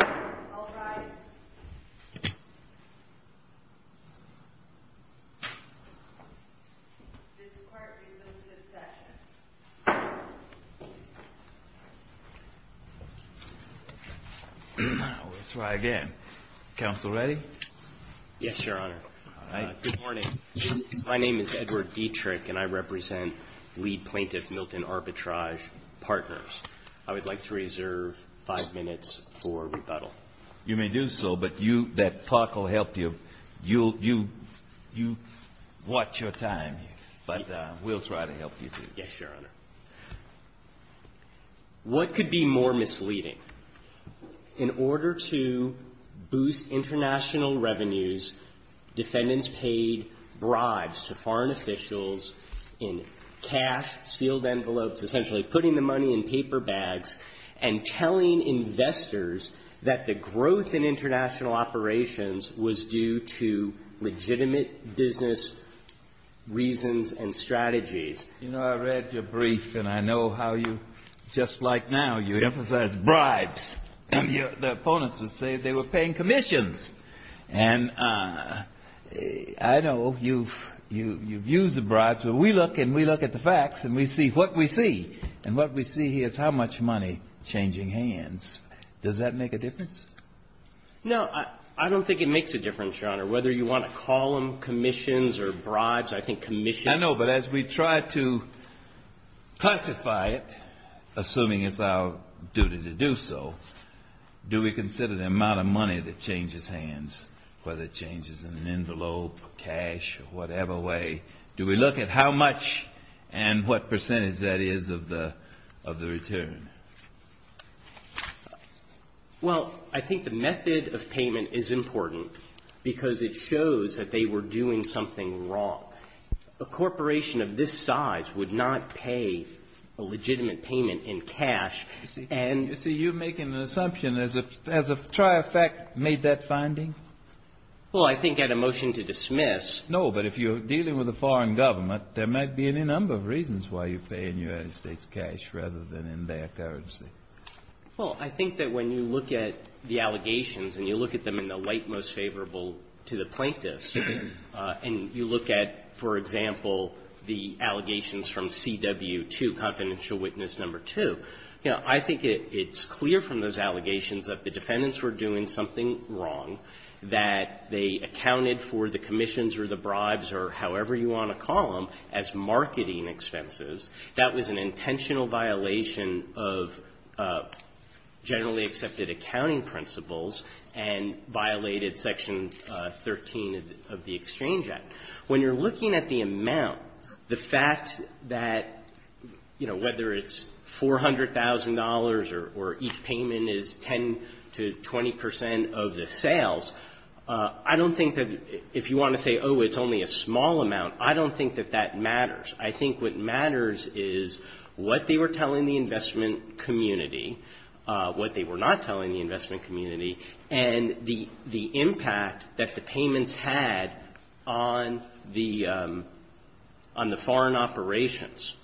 I'll rise. This court resumes its session. Let's try again. Counsel ready? Yes, Your Honor. Good morning. My name is Edward Dietrich, and I represent lead plaintiff Milton Arbitrage Partners. I would like to reserve five minutes for rebuttal. You may do so, but that talk will help you. You watch your time, but we'll try to help you. Yes, Your Honor. What could be more misleading? In order to boost international revenues, defendants paid bribes to foreign officials in cash-sealed envelopes, essentially putting the money in paper bags and telling investors that the growth in international operations was due to legitimate business reasons and strategies. You know, I read your brief, and I know how you, just like now, you emphasize bribes. The opponents would say they were paying commissions. And I know you've used the bribes. But we look, and we look at the facts, and we see what we see. And what we see here is how much money changing hands. Does that make a difference? No, I don't think it makes a difference, Your Honor. Whether you want to call them commissions or bribes, I think commissions I know, but as we try to classify it, assuming it's our duty to do so, do we consider the amount of money that changes hands, whether it changes in an envelope, cash, or whatever way? Do we look at how much and what percentage that is of the return? Well, I think the method of payment is important because it shows that they were doing something wrong. A corporation of this size would not pay a legitimate payment in cash. You see, you're making an assumption. Has TriEffect made that finding? Well, I think at a motion to dismiss No, but if you're dealing with a foreign government, there might be any number of reasons why you're paying United States cash rather than in their currency. Well, I think that when you look at the allegations and you look at them in the light most favorable to the plaintiffs, and you look at, for example, the allegations from CW2, confidential witness number 2, I think it's clear from those allegations that the defendants were doing something wrong, that they accounted for the commissions or the bribes or however you want to call them as marketing expenses. That was an intentional violation of generally accepted accounting principles and violated Section 13 of the Exchange Act. When you're looking at the amount, the fact that, you know, whether it's $400,000 or each payment is 10 to 20 percent of the sales, I don't think that if you want to say, oh, it's only a small amount, I don't think that that matters. I think what matters is what they were telling the investment community, what they were not telling the investment community, and the impact that the payments had on the foreign operations.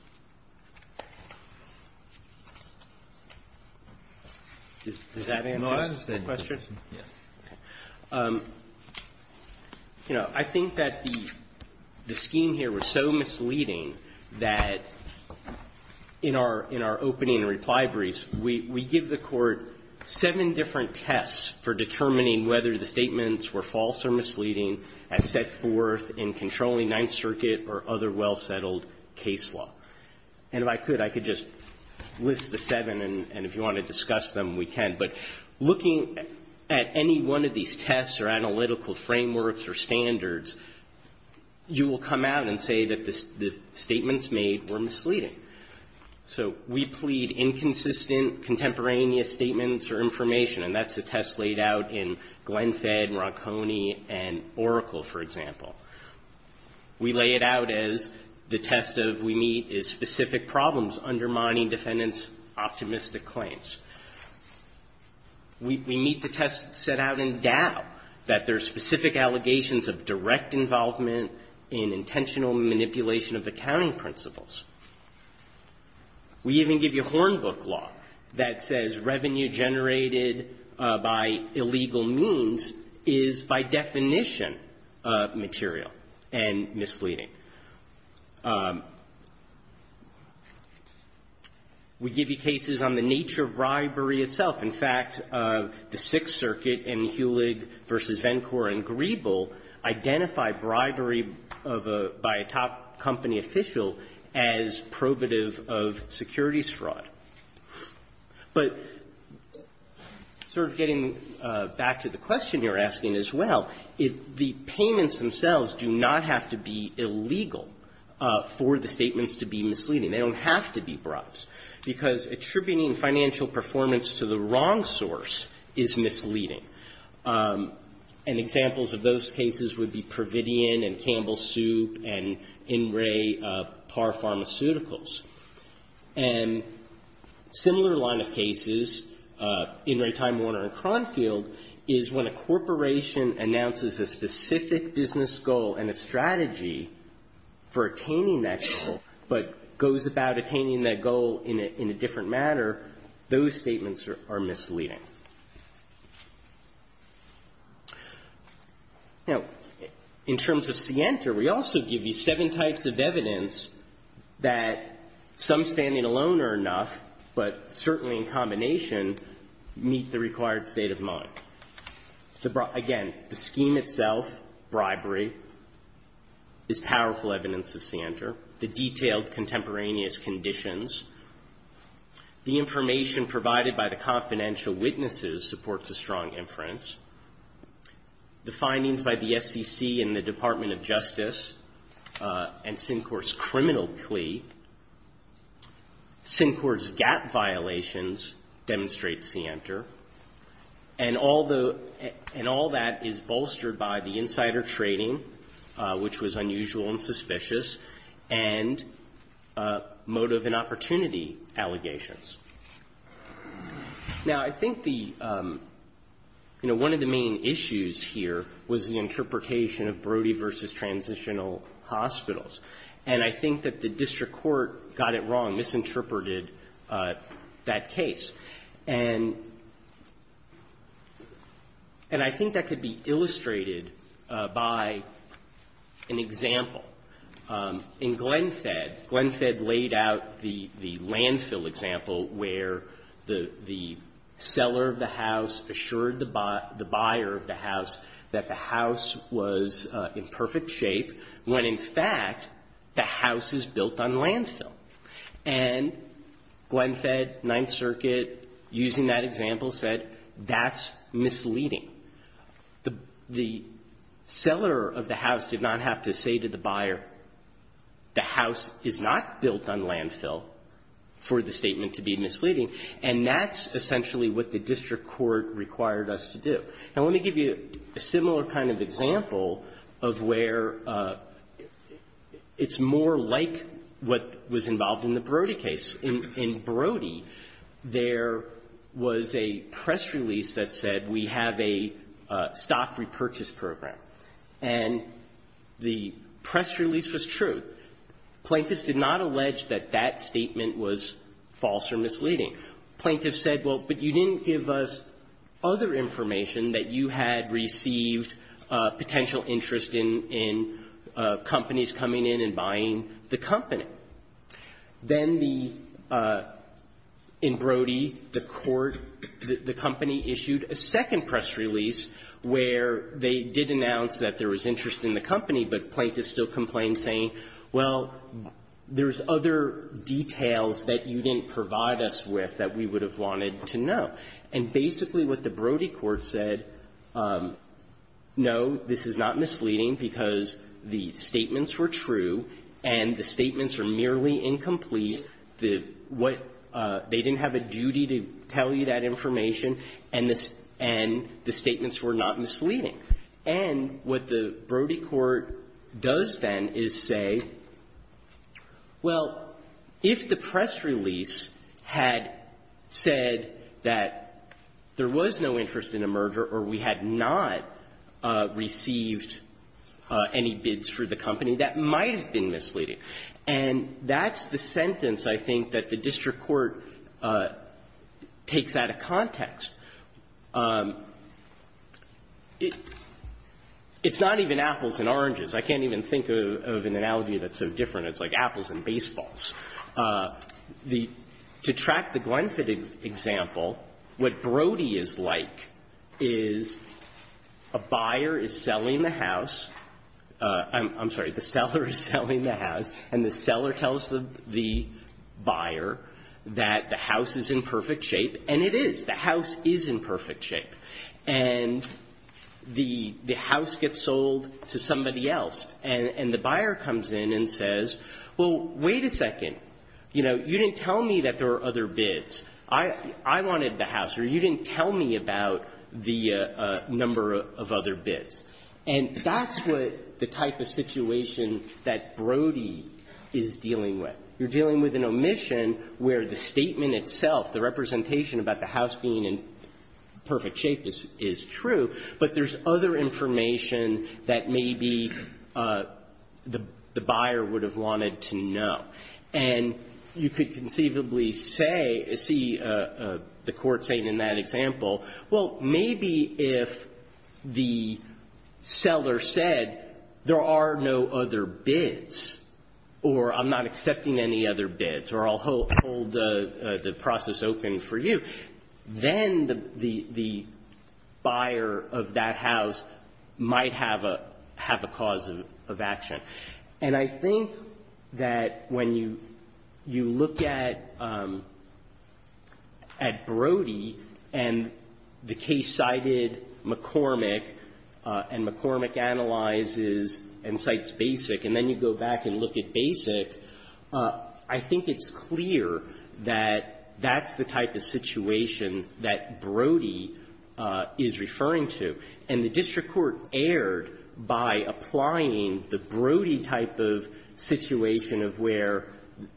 Does that answer your question? Yes. You know, I think that the scheme here was so misleading that in our opening reply briefs, we give the Court seven different tests for determining whether the statements were false or misleading as set forth in controlling Ninth Circuit or other well-settled case law. And if I could, I could just list the seven, and if you want to discuss them, we can. But looking at any one of these tests or analytical frameworks or standards, you will come out and say that the statements made were misleading. So we plead inconsistent contemporaneous statements or information, and that's a test laid out in Glenfed, Ronconi, and Oracle, for example. We lay it out as the test of we meet specific problems undermining defendants' optimistic claims. We meet the test set out in Dow that there are specific allegations of direct involvement in intentional manipulation of accounting principles. We even give you Hornbook law that says revenue generated by illegal means is, by definition, material and misleading. We give you cases on the nature of bribery itself. In fact, the Sixth Circuit and Hulig v. Vencore and Grebel identify bribery by a top company official as probative of securities fraud. But sort of getting back to the question you're asking as well, the payments themselves do not have to be illegal for the statements to be misleading. They don't have to be bribes. Because attributing financial performance to the wrong source is misleading. And examples of those cases would be Providian and Campbell Soup and In Re Par Pharmaceuticals. And similar line of cases, In Re Time Warner and Cronfield, is when a corporation announces a specific business goal and a strategy for attaining that goal, but goes about attaining that goal in a different manner, those statements are misleading. Now, in terms of Sienta, we also give you seven types of evidence that some standing alone are enough, but certainly in combination meet the required state of mind. Again, the scheme itself, bribery, is powerful evidence of Sienta. The detailed contemporaneous conditions. The information provided by the confidential witnesses supports a strong inference. The findings by the SEC and the Department of Justice and Syncort's criminal plea. Syncort's gap violations demonstrate Sienta. And all that is bolstered by the insider trading, which was unusual and suspicious, and motive and opportunity allegations. Now, I think the, you know, one of the main issues here was the interpretation of Brody v. Transitional Hospitals. And I think that the district court got it wrong, misinterpreted that case. And I think that could be illustrated by an example. In Glenfed, Glenfed laid out the landfill example where the seller of the house assured the buyer of the house that the house was in perfect shape when, in fact, the house is built on landfill. And Glenfed, Ninth Circuit, using that example, said that's misleading. The seller of the house did not have to say to the buyer, the house is not built on landfill for the statement to be misleading. And that's essentially what the district court required us to do. Now, let me give you a similar kind of example of where it's more like what was in the Brody case. In Brody, there was a press release that said we have a stock repurchase program. And the press release was true. Plaintiffs did not allege that that statement was false or misleading. Plaintiffs said, well, but you didn't give us other information that you had received potential interest in companies coming in and buying the company. Then the — in Brody, the court — the company issued a second press release where they did announce that there was interest in the company, but plaintiffs still complained saying, well, there's other details that you didn't provide us with that we would have wanted to know. And basically what the Brody court said, no, this is not misleading because the statements were true and the statements are merely incomplete. The — what — they didn't have a duty to tell you that information and the — and the statements were not misleading. And what the Brody court does then is say, well, if the press release had said that there was no interest in a merger or we had not received any bids for the company, that might have been misleading. And that's the sentence, I think, that the district court takes out of context. It's not even apples and oranges. I can't even think of an analogy that's so different. It's like apples and baseballs. The — to track the Glenfit example, what Brody is like is a buyer is selling the house. I'm sorry. The seller is selling the house. And the seller tells the buyer that the house is in perfect shape, and it is. The house is in perfect shape. And the — the house gets sold to somebody else. And the buyer comes in and says, well, wait a second. You know, you didn't tell me that there were other bids. I wanted the house, or you didn't tell me about the number of other bids. And that's what the type of situation that Brody is dealing with. You're dealing with an omission where the statement itself, the representation about the house being in perfect shape is true, but there's other information that maybe the — the buyer would have wanted to know. And you could conceivably say — see the court saying in that example, well, maybe if the seller said there are no other bids, or I'm not accepting any other bids, or I'll hold the process open for you, then the — the buyer of that house might have a — have a cause of action. And I think that when you — you look at — at Brody and the case cited McCormick, and McCormick analyzes and cites Basic, and then you go back and look at Basic, I think it's clear that that's the type of situation that Brody is referring to, and the district court erred by applying the Brody type of situation of where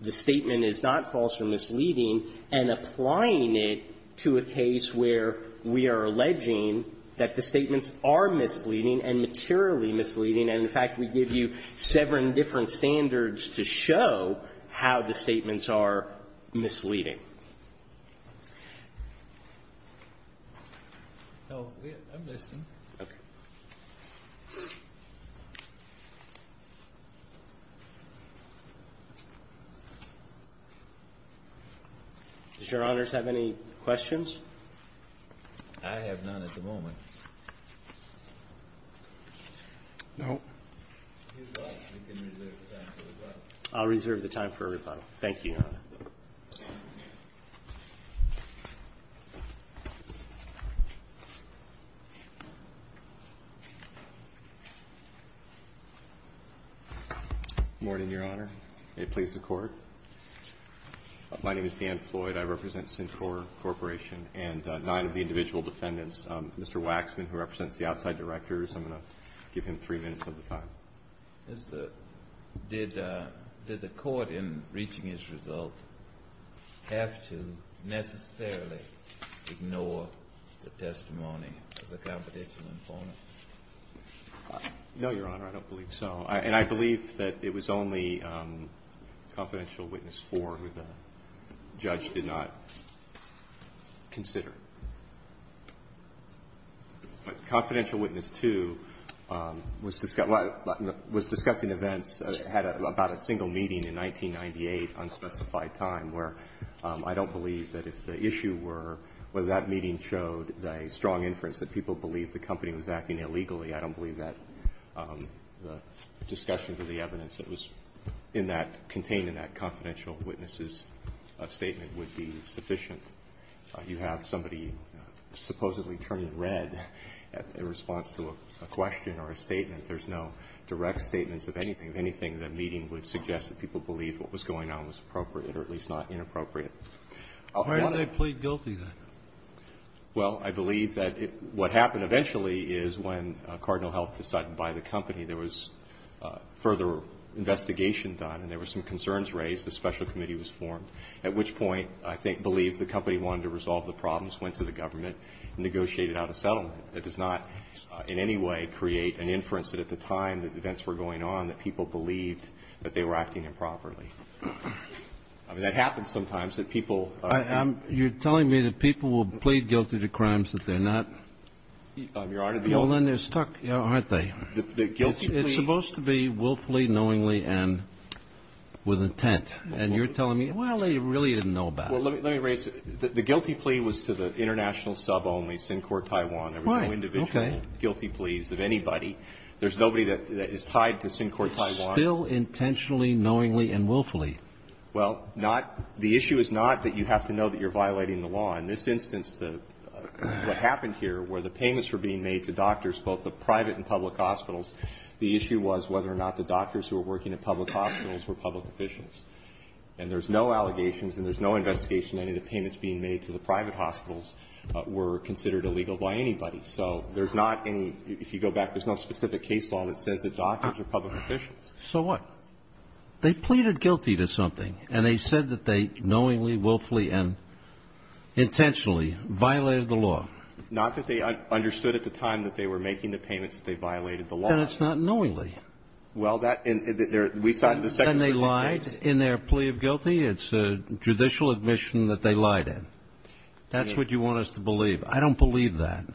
the statement is not false or misleading, and applying it to a case where we are alleging that the statements are misleading and materially misleading, and, in fact, we give you seven different standards to show how the statements are misleading. No. I'm listening. Okay. Does Your Honors have any questions? I have none at the moment. No. If you'd like, we can reserve the time for rebuttal. I'll reserve the time for rebuttal. Thank you, Your Honor. Thank you. Good morning, Your Honor. May it please the Court. My name is Dan Floyd. I represent Syncor Corporation and nine of the individual defendants. Mr. Waxman, who represents the outside directors, I'm going to give him three minutes of the time. Did the Court, in reaching its result, have to necessarily ignore the testimony of the confidential informant? No, Your Honor. I don't believe so. And I believe that it was only confidential witness four who the judge did not consider. But confidential witness two was discussed in events, had about a single meeting in 1998, unspecified time, where I don't believe that if the issue were whether that meeting showed a strong inference that people believed the company was acting illegally, I don't believe that the discussions of the evidence that was in that, contained in that confidential witness's statement would be sufficient. You have somebody supposedly turning red in response to a question or a statement. There's no direct statements of anything, of anything, that meeting would suggest that people believe what was going on was appropriate, or at least not inappropriate. Why are they plead guilty, then? Well, I believe that what happened eventually is when Cardinal Health decided to buy the company, there was further investigation done and there were some concerns raised, a special committee was formed, at which point I believe the company wanted to resolve the problems, went to the government and negotiated out a settlement. That does not in any way create an inference that at the time that events were going on, that people believed that they were acting improperly. I mean, that happens sometimes, that people are. You're telling me that people will plead guilty to crimes that they're not. Your Honor, the old. And then they're stuck, aren't they? The guilty plea. It's supposed to be willfully, knowingly, and with intent. And you're telling me, well, they really didn't know about it. Well, let me raise it. The guilty plea was to the international sub only, Sincor Taiwan. Fine. Okay. There were no individual guilty pleas of anybody. There's nobody that is tied to Sincor Taiwan. Still intentionally, knowingly, and willfully. Well, not the issue is not that you have to know that you're violating the law. In this instance, what happened here where the payments were being made to doctors, both the private and public hospitals, the issue was whether or not the doctors who were working at public hospitals were public officials. And there's no allegations, and there's no investigation that any of the payments being made to the private hospitals were considered illegal by anybody. So there's not any, if you go back, there's no specific case law that says that doctors are public officials. So what? They pleaded guilty to something, and they said that they knowingly, willfully, and intentionally violated the law. Not that they understood at the time that they were making the payments that they violated the law. Well, that, we cited the second second case. But then they lied in their plea of guilty. It's a judicial admission that they lied in. That's what you want us to believe. I don't believe that.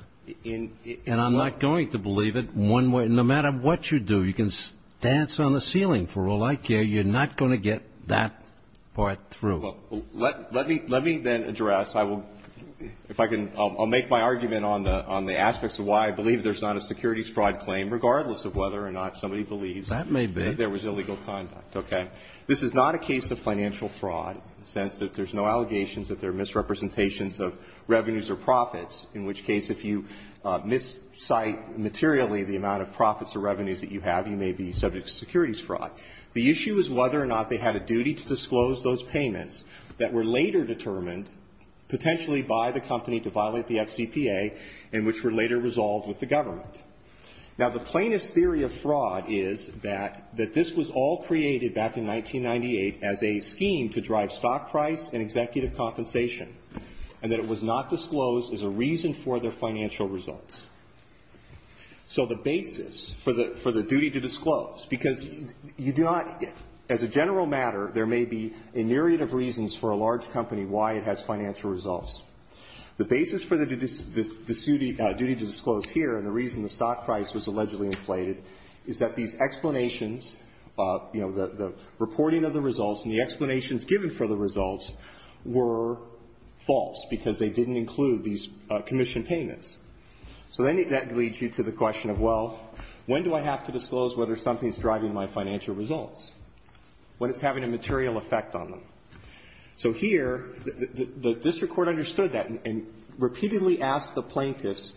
And I'm not going to believe it. No matter what you do, you can dance on the ceiling for all I care, you're not going to get that part through. Well, let me then address. I will, if I can, I'll make my argument on the aspects of why I believe there's not a securities fraud claim, regardless of whether or not somebody believes That may be. that there was illegal conduct, okay? This is not a case of financial fraud in the sense that there's no allegations that there are misrepresentations of revenues or profits, in which case if you miscite materially the amount of profits or revenues that you have, you may be subject to securities fraud. The issue is whether or not they had a duty to disclose those payments that were later determined, potentially by the company, to violate the FCPA, and which were later resolved with the government. Now, the plaintiff's theory of fraud is that this was all created back in 1998 as a scheme to drive stock price and executive compensation, and that it was not disclosed as a reason for their financial results. So the basis for the duty to disclose, because you do not, as a general matter, there may be a myriad of reasons for a large company why it has financial results. The basis for the duty to disclose here and the reason the stock price was allegedly inflated is that these explanations of, you know, the reporting of the results and the explanations given for the results were false, because they didn't include these commission payments. So then that leads you to the question of, well, when do I have to disclose whether something is driving my financial results when it's having a material effect on them? So here, the district court understood that and repeatedly asked the plaintiffs,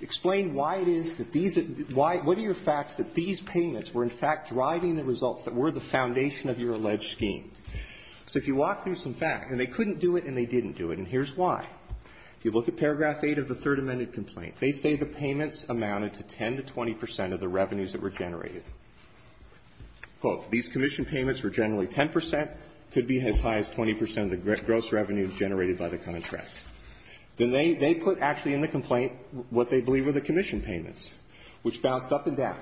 explain why it is that these are why, what are your facts that these payments were in fact driving the results that were the foundation of your alleged scheme? So if you walk through some facts, and they couldn't do it and they didn't do it, and here's why. If you look at paragraph 8 of the Third Amendment complaint, they say the payments amounted to 10 to 20 percent of the revenues that were generated. Quote, these commission payments were generally 10 percent, could be as high as 20 percent of the gross revenue generated by the contract. Then they put actually in the complaint what they believe were the commission payments, which bounced up and down.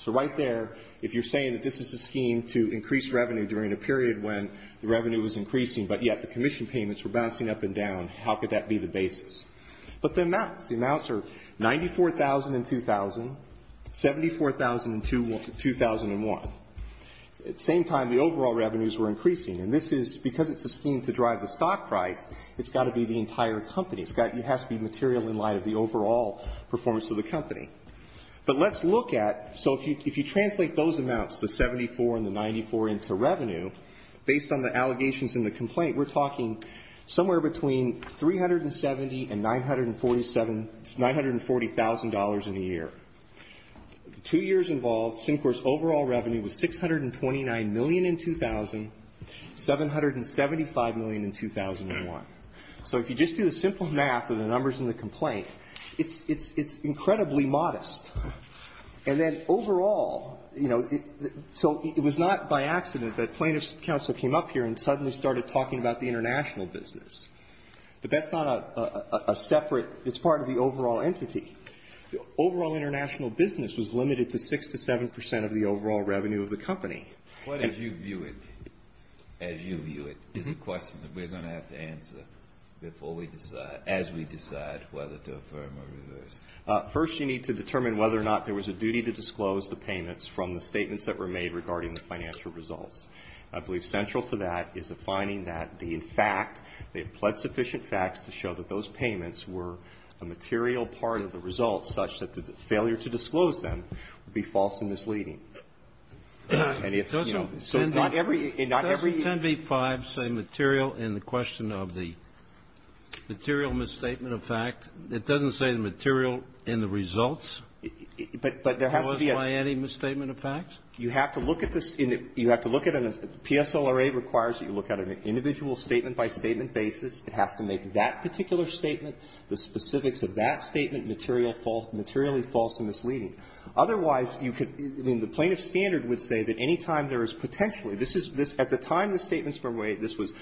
So right there, if you're saying that this is a scheme to increase revenue during a period when the revenue was increasing, but yet the commission payments were bouncing up and down, how could that be the basis? But the amounts, the amounts are 94,000 and 2,000, 74,000 and 2,001. At the same time, the overall revenues were increasing. And this is, because it's a scheme to drive the stock price, it's got to be the entire company. It's got to be material in light of the overall performance of the company. But let's look at, so if you translate those amounts, the 74 and the 94, into revenue, based on the allegations in the complaint, we're talking somewhere between 370 and The two years involved, CINCOR's overall revenue was 629 million in 2000, 775 million in 2001. So if you just do a simple math of the numbers in the complaint, it's incredibly modest. And then overall, you know, so it was not by accident that plaintiff's counsel came up here and suddenly started talking about the international business. But that's not a separate, it's part of the overall entity. The overall international business was limited to 6 to 7 percent of the overall revenue of the company. What, as you view it, as you view it, is the question that we're going to have to answer before we decide, as we decide whether to affirm or reverse? First, you need to determine whether or not there was a duty to disclose the payments from the statements that were made regarding the financial results. I believe central to that is a finding that the, in fact, they've pled sufficient facts to show that those payments were a material part of the results, such that the failure to disclose them would be false and misleading. And if, you know, so it's not every, it's not every. Kennedy. Doesn't 10b-5 say material in the question of the material misstatement of fact? It doesn't say the material in the results? But there has to be a. Was it by any misstatement of fact? You have to look at this. You have to look at a PSLRA requires that you look at an individual statement by statement basis. It has to make that particular statement, the specifics of that statement, material, materially false and misleading. Otherwise, you could, I mean, the plaintiff's standard would say that any time there is potentially, this is, this, at the time the statements were made, this was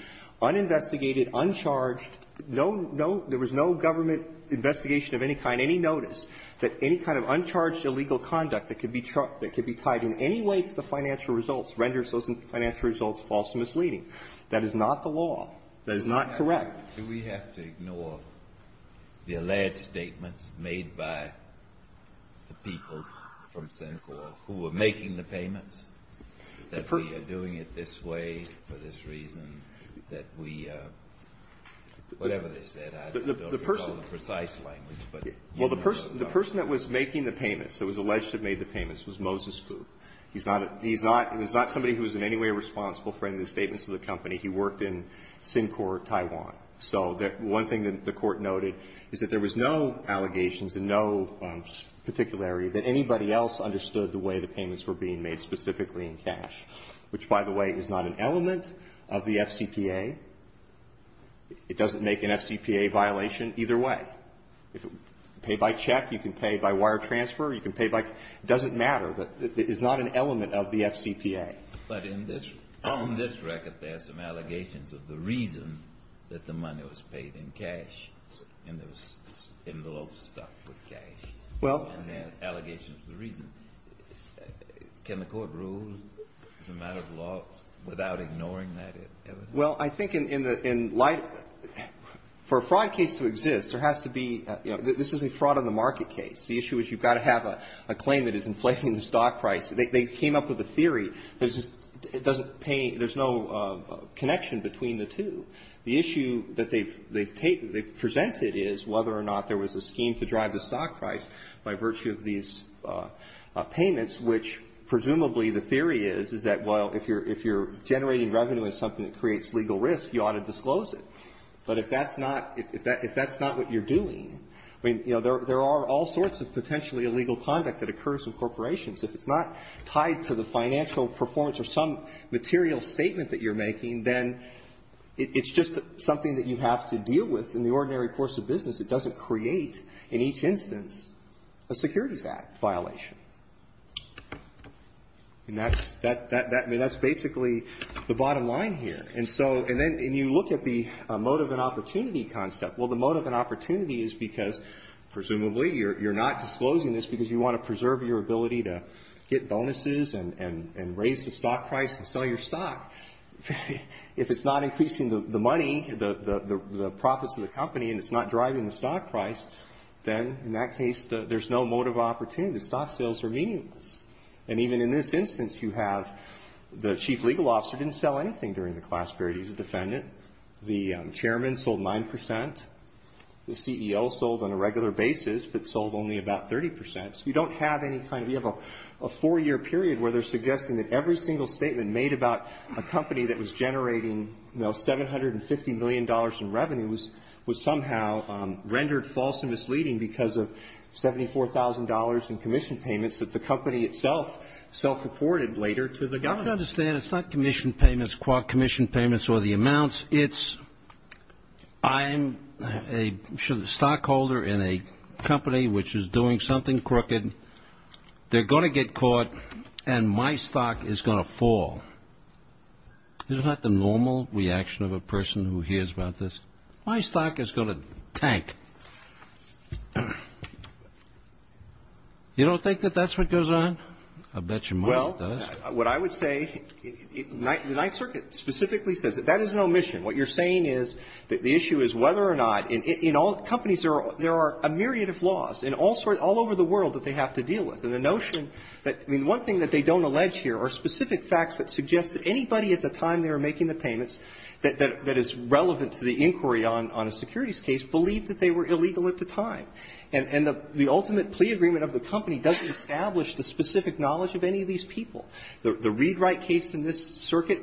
uninvestigated, uncharged, no, no, there was no government investigation of any kind, any notice, that any kind of uncharged illegal conduct that could be, that could be tied in any That is not the law. That is not correct. Do we have to ignore the alleged statements made by the people from Syncor who were making the payments, that we are doing it this way for this reason, that we, whatever they said, I don't know the precise language, but you know. Well, the person, the person that was making the payments, that was alleged to have made the payments, was Moses Fu. He's not a, he's not, he was not somebody who was in any way responsible for any of the statements of the company. He worked in Syncor, Taiwan. So the one thing that the Court noted is that there was no allegations and no particularity that anybody else understood the way the payments were being made specifically in cash, which, by the way, is not an element of the FCPA. It doesn't make an FCPA violation either way. If it, pay by check, you can pay by wire transfer, you can pay by, it doesn't matter, it's not an element of the FCPA. But in this, on this record, there are some allegations of the reason that the money was paid in cash and there was envelopes stuffed with cash. Well. And there are allegations of the reason. Can the Court rule as a matter of law without ignoring that evidence? Well, I think in light, for a fraud case to exist, there has to be, you know, this isn't a fraud on the market case. The issue is you've got to have a claim that is inflating the stock price. They came up with a theory. There's just, it doesn't pay, there's no connection between the two. The issue that they've taken, they've presented is whether or not there was a scheme to drive the stock price by virtue of these payments, which presumably the theory is, is that, well, if you're generating revenue in something that creates legal risk, you ought to disclose it. But if that's not, if that's not what you're doing, I mean, you know, there are all kinds of potentially illegal conduct that occurs in corporations. If it's not tied to the financial performance or some material statement that you're making, then it's just something that you have to deal with. In the ordinary course of business, it doesn't create, in each instance, a Securities Act violation. And that's, I mean, that's basically the bottom line here. And so, and then you look at the motive and opportunity concept. Well, the motive and opportunity is because, presumably, you're not disclosing this because you want to preserve your ability to get bonuses and raise the stock price and sell your stock. If it's not increasing the money, the profits of the company, and it's not driving the stock price, then, in that case, there's no motive opportunity. The stock sales are meaningless. And even in this instance, you have the chief legal officer didn't sell anything during the class period. He's a defendant. The chairman sold 9 percent. The CEO sold on a regular basis, but sold only about 30 percent. So you don't have any kind of you have a four-year period where they're suggesting that every single statement made about a company that was generating, you know, $750 million in revenues was somehow rendered false and misleading because of $74,000 in commission payments that the company itself self-reported later to the government. I don't understand. It's not commission payments, commission payments or the amounts. It's I'm a stockholder in a company which is doing something crooked. They're going to get caught, and my stock is going to fall. Isn't that the normal reaction of a person who hears about this? My stock is going to tank. You don't think that that's what goes on? I bet your mind does. Well, what I would say, the Ninth Circuit specifically says that that is an omission. What you're saying is that the issue is whether or not in all companies there are a myriad of laws in all over the world that they have to deal with, and the notion that, I mean, one thing that they don't allege here are specific facts that suggest that anybody at the time they were making the payments that is relevant to the inquiry on a securities case believed that they were illegal at the time. And the ultimate plea agreement of the company doesn't establish the specific knowledge of any of these people. The Read-Write case in this circuit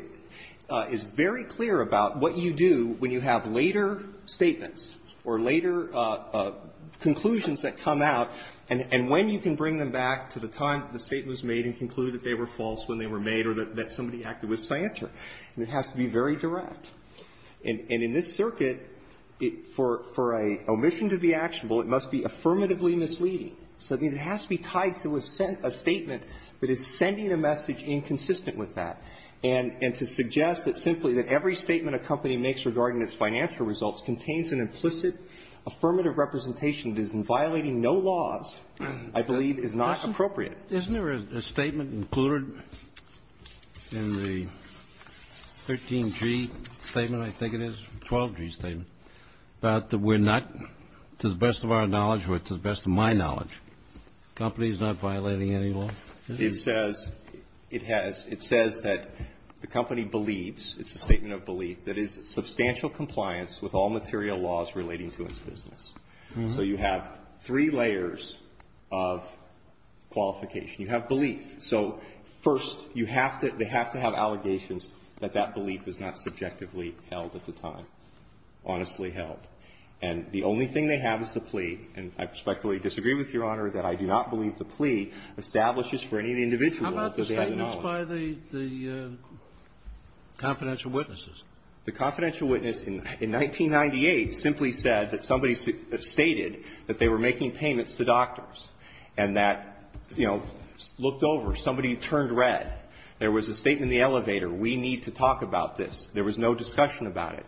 is very clear about what you do when you have later statements or later conclusions that come out, and when you can bring them back to the time that the statement was made and conclude that they were false when they were made or that somebody acted with scienter. It has to be very direct. And in this circuit, for an omission to be actionable, it must be affirmatively misleading. So, I mean, it has to be tied to a statement that is sending a message inconsistent with that. And to suggest that simply that every statement a company makes regarding its financial results contains an implicit affirmative representation that is violating no laws, I believe, is not appropriate. Kennedy, isn't there a statement included in the 13G statement, I think it is, 12G I believe, about that we're not, to the best of our knowledge or to the best of my knowledge, the company is not violating any law? It says that the company believes, it's a statement of belief, that is substantial compliance with all material laws relating to its business. So you have three layers of qualification. You have belief. So, first, they have to have allegations that that belief is not subjectively held at the time. Honestly held. And the only thing they have is the plea. And I respectfully disagree with Your Honor that I do not believe the plea establishes for any individual that they have the knowledge. How about the statements by the confidential witnesses? The confidential witness in 1998 simply said that somebody stated that they were making payments to doctors, and that, you know, looked over, somebody turned red. There was a statement in the elevator, we need to talk about this. There was no discussion about it.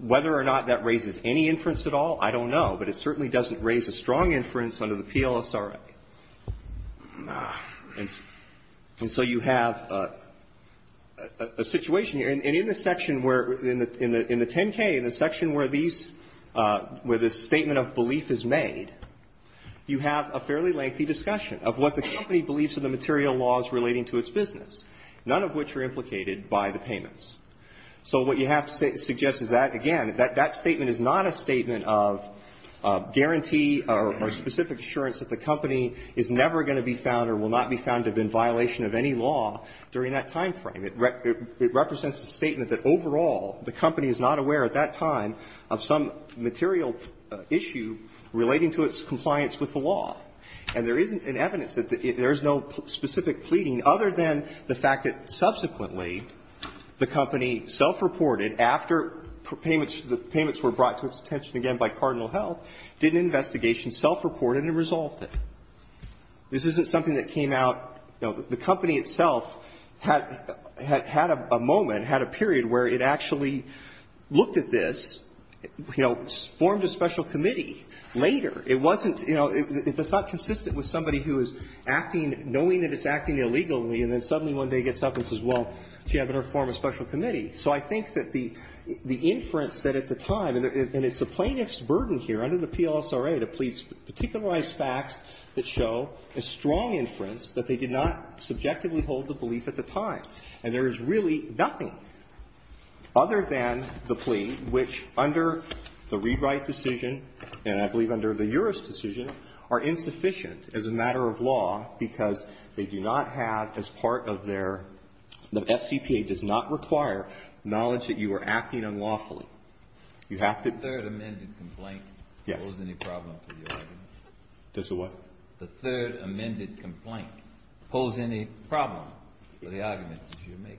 Whether or not that raises any inference at all, I don't know. But it certainly doesn't raise a strong inference under the PLSRA. And so you have a situation here. And in the section where, in the 10-K, in the section where these, where this statement of belief is made, you have a fairly lengthy discussion of what the company believes are the material laws relating to its business, none of which are implicated by the payments. So what you have to suggest is that, again, that statement is not a statement of guarantee or specific assurance that the company is never going to be found or will not be found to have been in violation of any law during that time frame. It represents a statement that overall the company is not aware at that time of some material issue relating to its compliance with the law. And there isn't an evidence that there is no specific pleading other than the fact that, subsequently, the company self-reported after payments were brought to its attention again by Cardinal Health, did an investigation, self-reported, and resolved it. This isn't something that came out the company itself had a moment, had a period where it actually looked at this, you know, formed a special committee later. It wasn't, you know, it's not consistent with somebody who is acting, knowing that it's acting illegally, and then suddenly one day gets up and says, well, do you have another form of special committee? So I think that the inference that at the time, and it's the plaintiff's burden here under the PLSRA to please particularized facts that show a strong inference that they did not subjectively hold the belief at the time. And there is really nothing other than the plea which, under the Rewrite decision and I believe under the Uris decision, are insufficient as a matter of law because they do not have as part of their, the FCPA does not require knowledge that you are acting unlawfully. You have to. The third amended complaint. Yes. Poses any problem for the argument? Does the what? The third amended complaint pose any problem for the argument that you're making?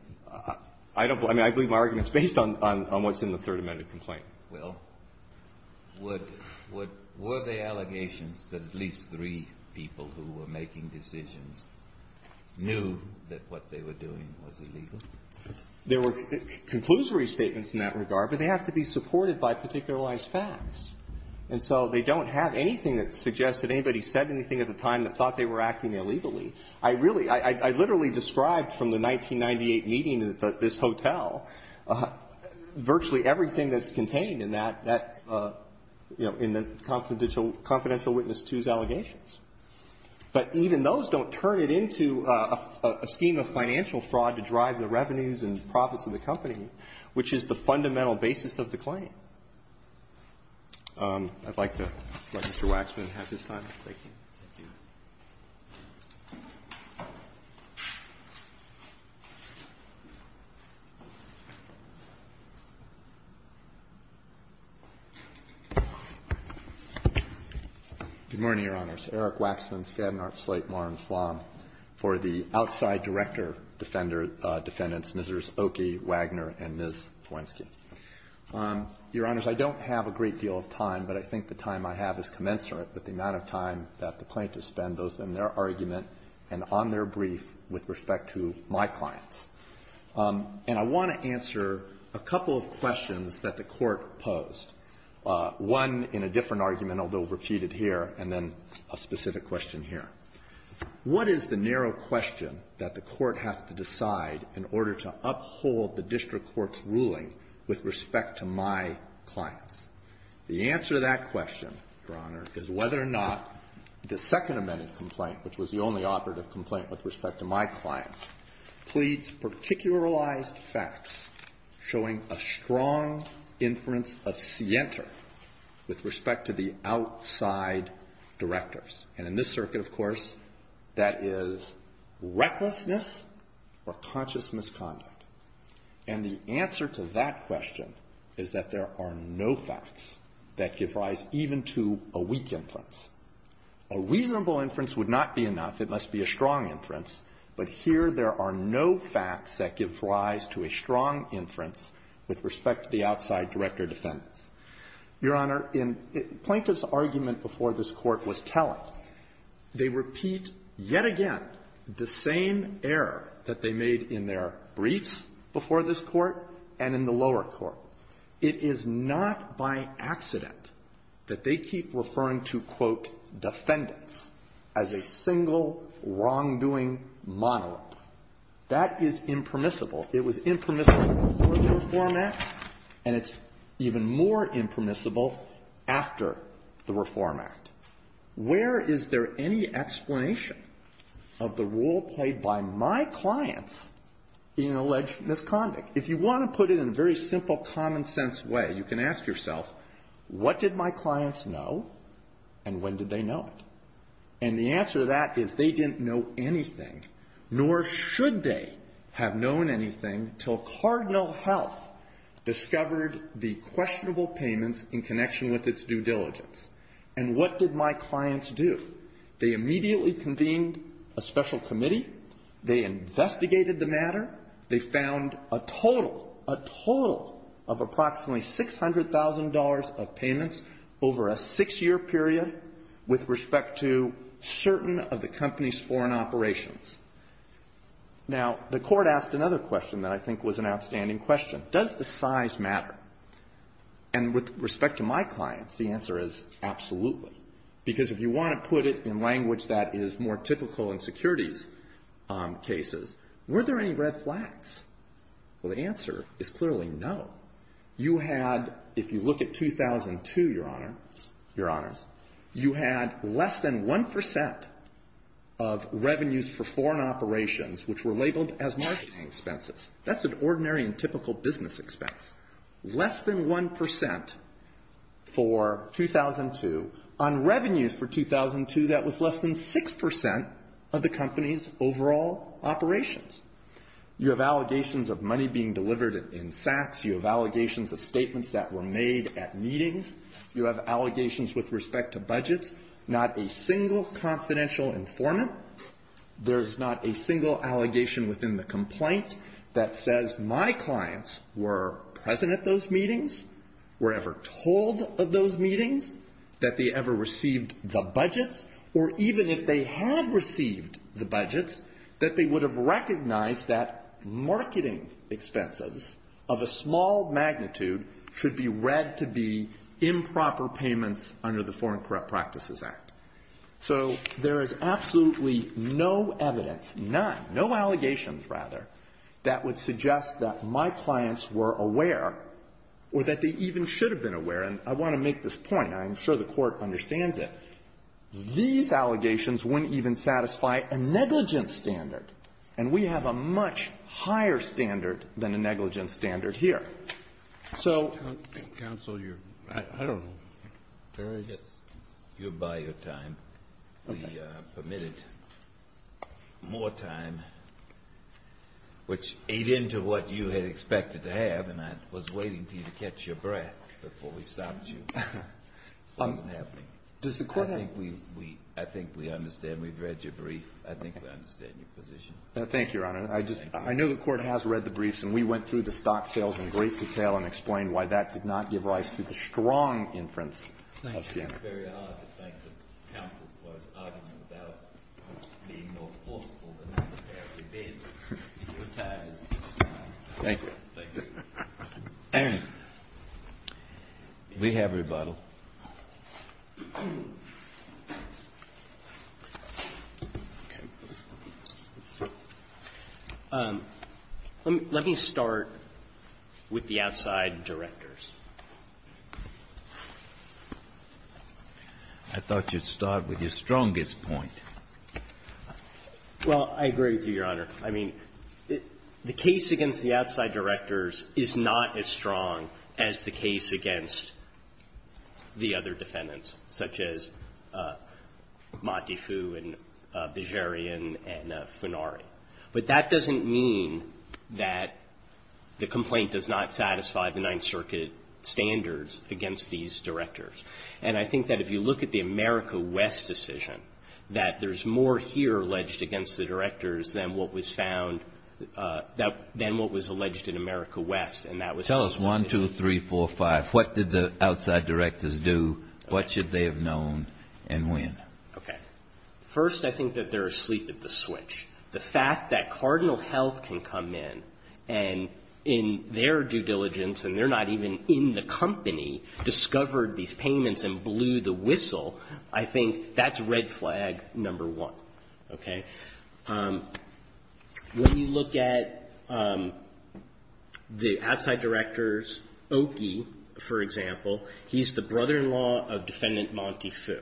I don't believe, I mean, I believe my argument is based on what's in the third amended complaint. Well, would, were there allegations that at least three people who were making decisions knew that what they were doing was illegal? There were conclusory statements in that regard, but they have to be supported by particularized facts. And so they don't have anything that suggests that anybody said anything at the time that thought they were acting illegally. I really, I literally described from the 1998 meeting at this hotel virtually everything that's contained in that, you know, in the confidential witness 2's allegations. But even those don't turn it into a scheme of financial fraud to drive the revenues and profits of the company, which is the fundamental basis of the claim. I'd like to let Mr. Waxman have his time. Thank you. Thank you. Good morning, Your Honors. Eric Waxman, Skadden, Arp, Slate, Moore, and Flom. For the outside director defendants, Mrs. Oki, Wagner, and Ms. Lewinsky. Your Honors, I don't have a great deal of time, but I think the time I have is commensurate with the amount of time that the plaintiffs spend both in their argument and on their brief with respect to my clients. And I want to answer a couple of questions that the Court posed, one in a different argument, although repeated here, and then a specific question here. What is the narrow question that the Court has to decide in order to uphold the district court's ruling with respect to my clients? The answer to that question, Your Honor, is whether or not the second amended complaint, which was the only operative complaint with respect to my clients, pleads particularized facts showing a strong inference of scienter with respect to the outside directors. And in this circuit, of course, that is recklessness or conscious misconduct. And the answer to that question is that there are no facts that give rise even to a weak inference. A reasonable inference would not be enough. It must be a strong inference. But here there are no facts that give rise to a strong inference with respect to the outside director defendants. Your Honor, in plaintiff's argument before this Court was telling, they repeat yet again the same error that they made in their briefs before this Court and in the lower court. It is not by accident that they keep referring to, quote, defendants as a single wrongdoing monolith. That is impermissible. It was impermissible before the Reform Act, and it's even more impermissible after the Reform Act. Where is there any explanation of the role played by my clients in alleged misconduct? If you want to put it in a very simple, common-sense way, you can ask yourself, what did my clients know, and when did they know it? And the answer to that is they didn't know anything, nor should they have known anything until Cardinal Health discovered the questionable payments in connection with its due diligence. And what did my clients do? They immediately convened a special committee. They investigated the matter. They found a total, a total of approximately $600,000 of payments over a six-year period with respect to certain of the company's foreign operations. Now, the Court asked another question that I think was an outstanding question. Does the size matter? And with respect to my clients, the answer is absolutely. Because if you want to put it in language that is more typical in securities cases, were there any red flags? Well, the answer is clearly no. You had, if you look at 2002, Your Honors, you had less than 1% of revenues for foreign operations, which were labeled as marketing expenses. That's an ordinary and typical business expense. Less than 1% for 2002. On revenues for 2002, that was less than 6% of the company's overall operations. You have allegations of money being delivered in sacks. You have allegations of statements that were made at meetings. You have allegations with respect to budgets. Not a single confidential informant. There's not a single allegation within the complaint that says my clients were present at those meetings, were ever told of those meetings, that they ever received the budgets, or even if they had received the budgets, that they would have recognized that marketing expenses of a small magnitude should be read to be improper payments under the Foreign Corrupt Practices Act. So there is absolutely no evidence, none, no allegations, rather, that would suggest that my clients were aware or that they even should have been aware. And I want to make this point. I'm sure the Court understands it. These allegations wouldn't even satisfy a negligence standard. And we have a much higher standard than a negligence standard here. So — Kennedy, you're by your time. We permitted more time, which ate into what you had expected to have, and I was waiting for you to catch your breath before we stopped you. It wasn't happening. I think we understand. We've read your brief. I think we understand your position. Thank you, Your Honor. I just — I know the Court has read the briefs, and we went through the stock sales in great detail and explained why that did not give rise to the strong inference that it did. Thank you. Thank you. Thank you. We have rebuttal. Okay. Let me start with the outside directors. I thought you'd start with your strongest point. Well, I agree with you, Your Honor. I mean, the case against the outside directors is not as strong as the case against the other defendants, such as Montefiou and Bejerian and Funari. But that doesn't mean that the complaint does not satisfy the Ninth Circuit standards against these directors. And I think that if you look at the America West decision, that there's more here alleged against the directors than what was found — than what was alleged in America West, and that was — Tell us one, two, three, four, five. What did the outside directors do? What should they have known? And when? Okay. First, I think that they're asleep at the switch. The fact that Cardinal Health can come in, and in their due diligence, and they're not even in the company, discovered these payments and blew the whistle, I think that's red flag number one. Okay? When you look at the outside directors, Oki, for example, he's the brother-in-law of Defendant Montefiou.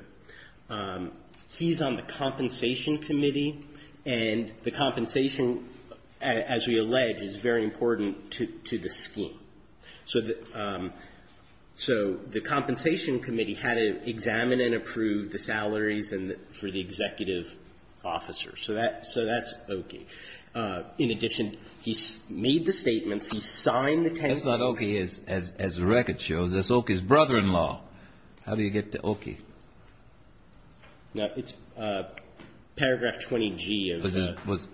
He's on the Compensation Committee, and the compensation, as we allege, is very important to the scheme. So the — so the Compensation Committee had to examine and approve the salaries and — for the executive officers. So that — so that's Oki. In addition, he made the statements. He signed the 10 rules. That's not Oki, as the record shows. How do you get to Oki? No, it's paragraph 20G of the — Was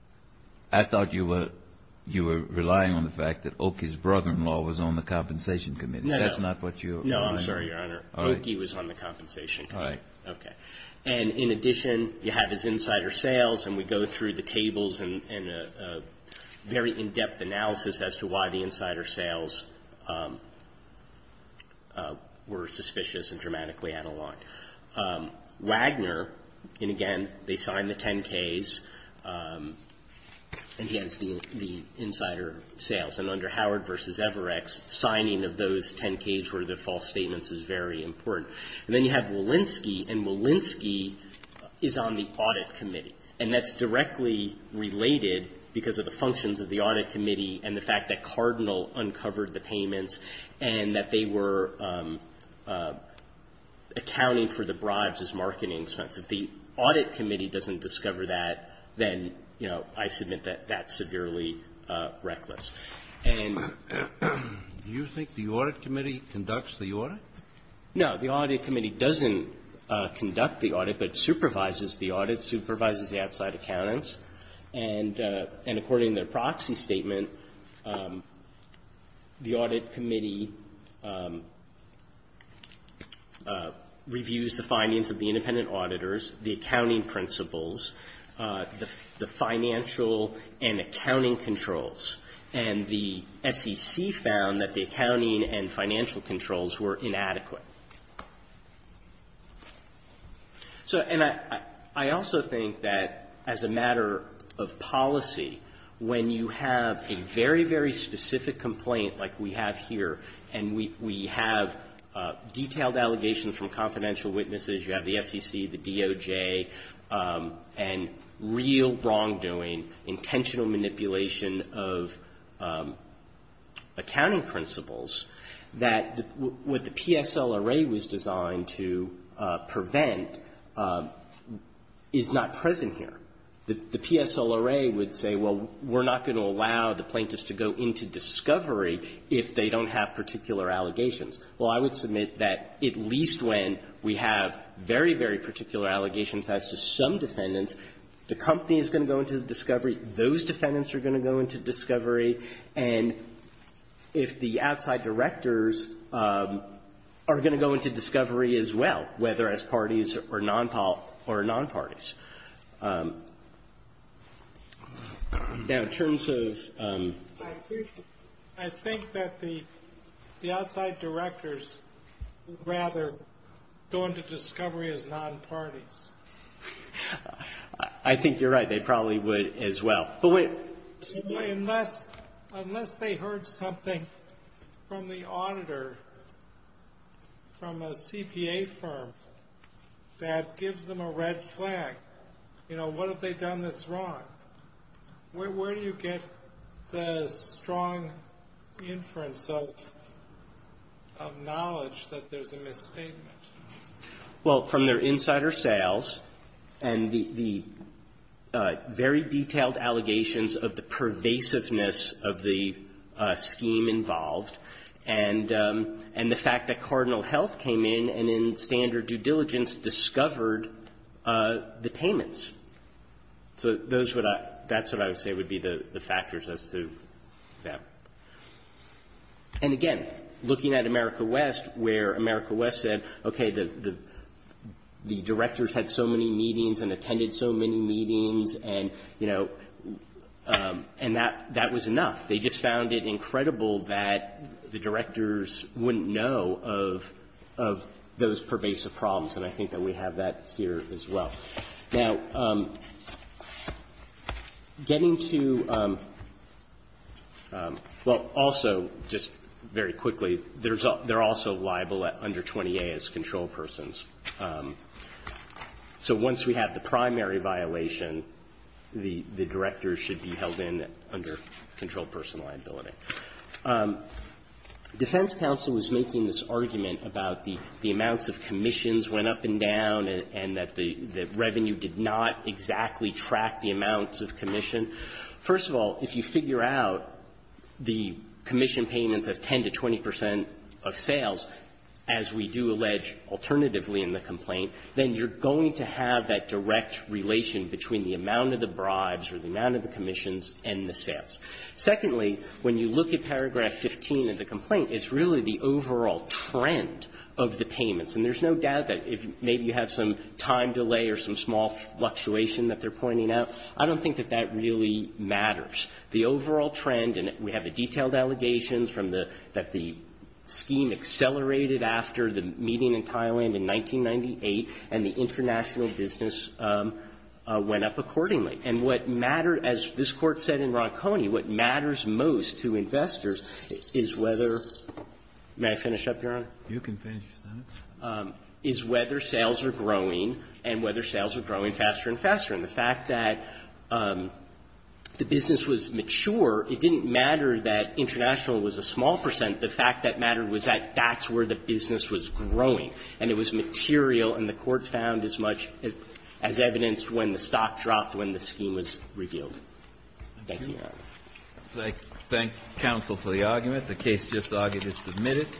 — I thought you were — you were relying on the fact that Oki's brother-in-law was on the Compensation Committee. No, no. That's not what you — No, I'm sorry, Your Honor. Oki was on the Compensation Committee. All right. Okay. And in addition, you have his insider sales, and we go through the tables and a very Wagner, and again, they signed the 10-Ks, and he has the insider sales. And under Howard v. Everex, signing of those 10-Ks were the false statements is very important. And then you have Walensky, and Walensky is on the Audit Committee. And that's directly related because of the functions of the Audit Committee and the fact that Cardinal uncovered the payments and that they were accounting for the bribes as marketing expense. If the Audit Committee doesn't discover that, then, you know, I submit that that's severely reckless. And — Do you think the Audit Committee conducts the audit? No. The Audit Committee doesn't conduct the audit, but supervises the audit, supervises the outside accountants. And according to their proxy statement, the Audit Committee reviews the findings of the independent auditors, the accounting principles, the financial and accounting controls, and the SEC found that the accounting and financial controls were inadequate. So — and I also think that as a matter of policy, when you have a very, very specific complaint like we have here, and we have detailed allegations from confidential witnesses, you have the SEC, the DOJ, and real wrongdoing, intentional manipulation of accounting principles, that what the PSLRA was designed to prevent is not present here. The PSLRA would say, well, we're not going to allow the plaintiffs to go into discovery if they don't have particular allegations. Well, I would submit that at least when we have very, very particular allegations as to some defendants, the company is going to go into discovery, those defendants are going to go into discovery, and if the outside directors are going to go into discovery as well, whether as parties or nonparties. Now, in terms of — I think that the outside directors would rather go into discovery as nonparties. I think you're right. They probably would as well. Unless they heard something from the auditor from a CPA firm that gives them a red flag, you know, what have they done that's wrong? Where do you get the strong inference of knowledge that there's a misstatement? Well, from their insider sales and the very detailed allegations of the pervasiveness of the scheme involved, and the fact that Cardinal Health came in and in standard due diligence discovered the payments. So those would — that's what I would say would be the factors as to that. And again, looking at America West, where America West said, okay, the directors had so many meetings and attended so many meetings, and, you know, and that was enough. They just found it incredible that the directors wouldn't know of those pervasive problems, and I think that we have that here as well. Now, getting to — well, also, just very quickly, they're also liable under 20A as control persons. So once we have the primary violation, the directors should be held in under control person liability. Defense counsel was making this argument about the amounts of commissions went up and down and that the revenue did not exactly track the amounts of commission. First of all, if you figure out the commission payments as 10 to 20 percent of sales, as we do allege alternatively in the complaint, then you're going to have that direct relation between the amount of the bribes or the amount of the commissions and the sales. Secondly, when you look at paragraph 15 of the complaint, it's really the overall trend of the payments, and there's no doubt that if maybe you have some time delay or some small fluctuation that they're pointing out, I don't think that that really matters. The overall trend, and we have the detailed allegations from the — that the scheme accelerated after the meeting in Thailand in 1998, and the international business went up accordingly. And what mattered, as this Court said in Ronconi, what matters most to investors is whether — may I finish up, Your Honor? Kennedy, you can finish, Your Honor. Is whether sales are growing and whether sales are growing faster and faster. And the fact that the business was mature, it didn't matter that international was a small percent. The fact that mattered was that that's where the business was growing, and it was material, and the Court found as much as evidenced when the stock dropped when the scheme was revealed. Thank you, Your Honor. I thank counsel for the argument. The case just argued is submitted.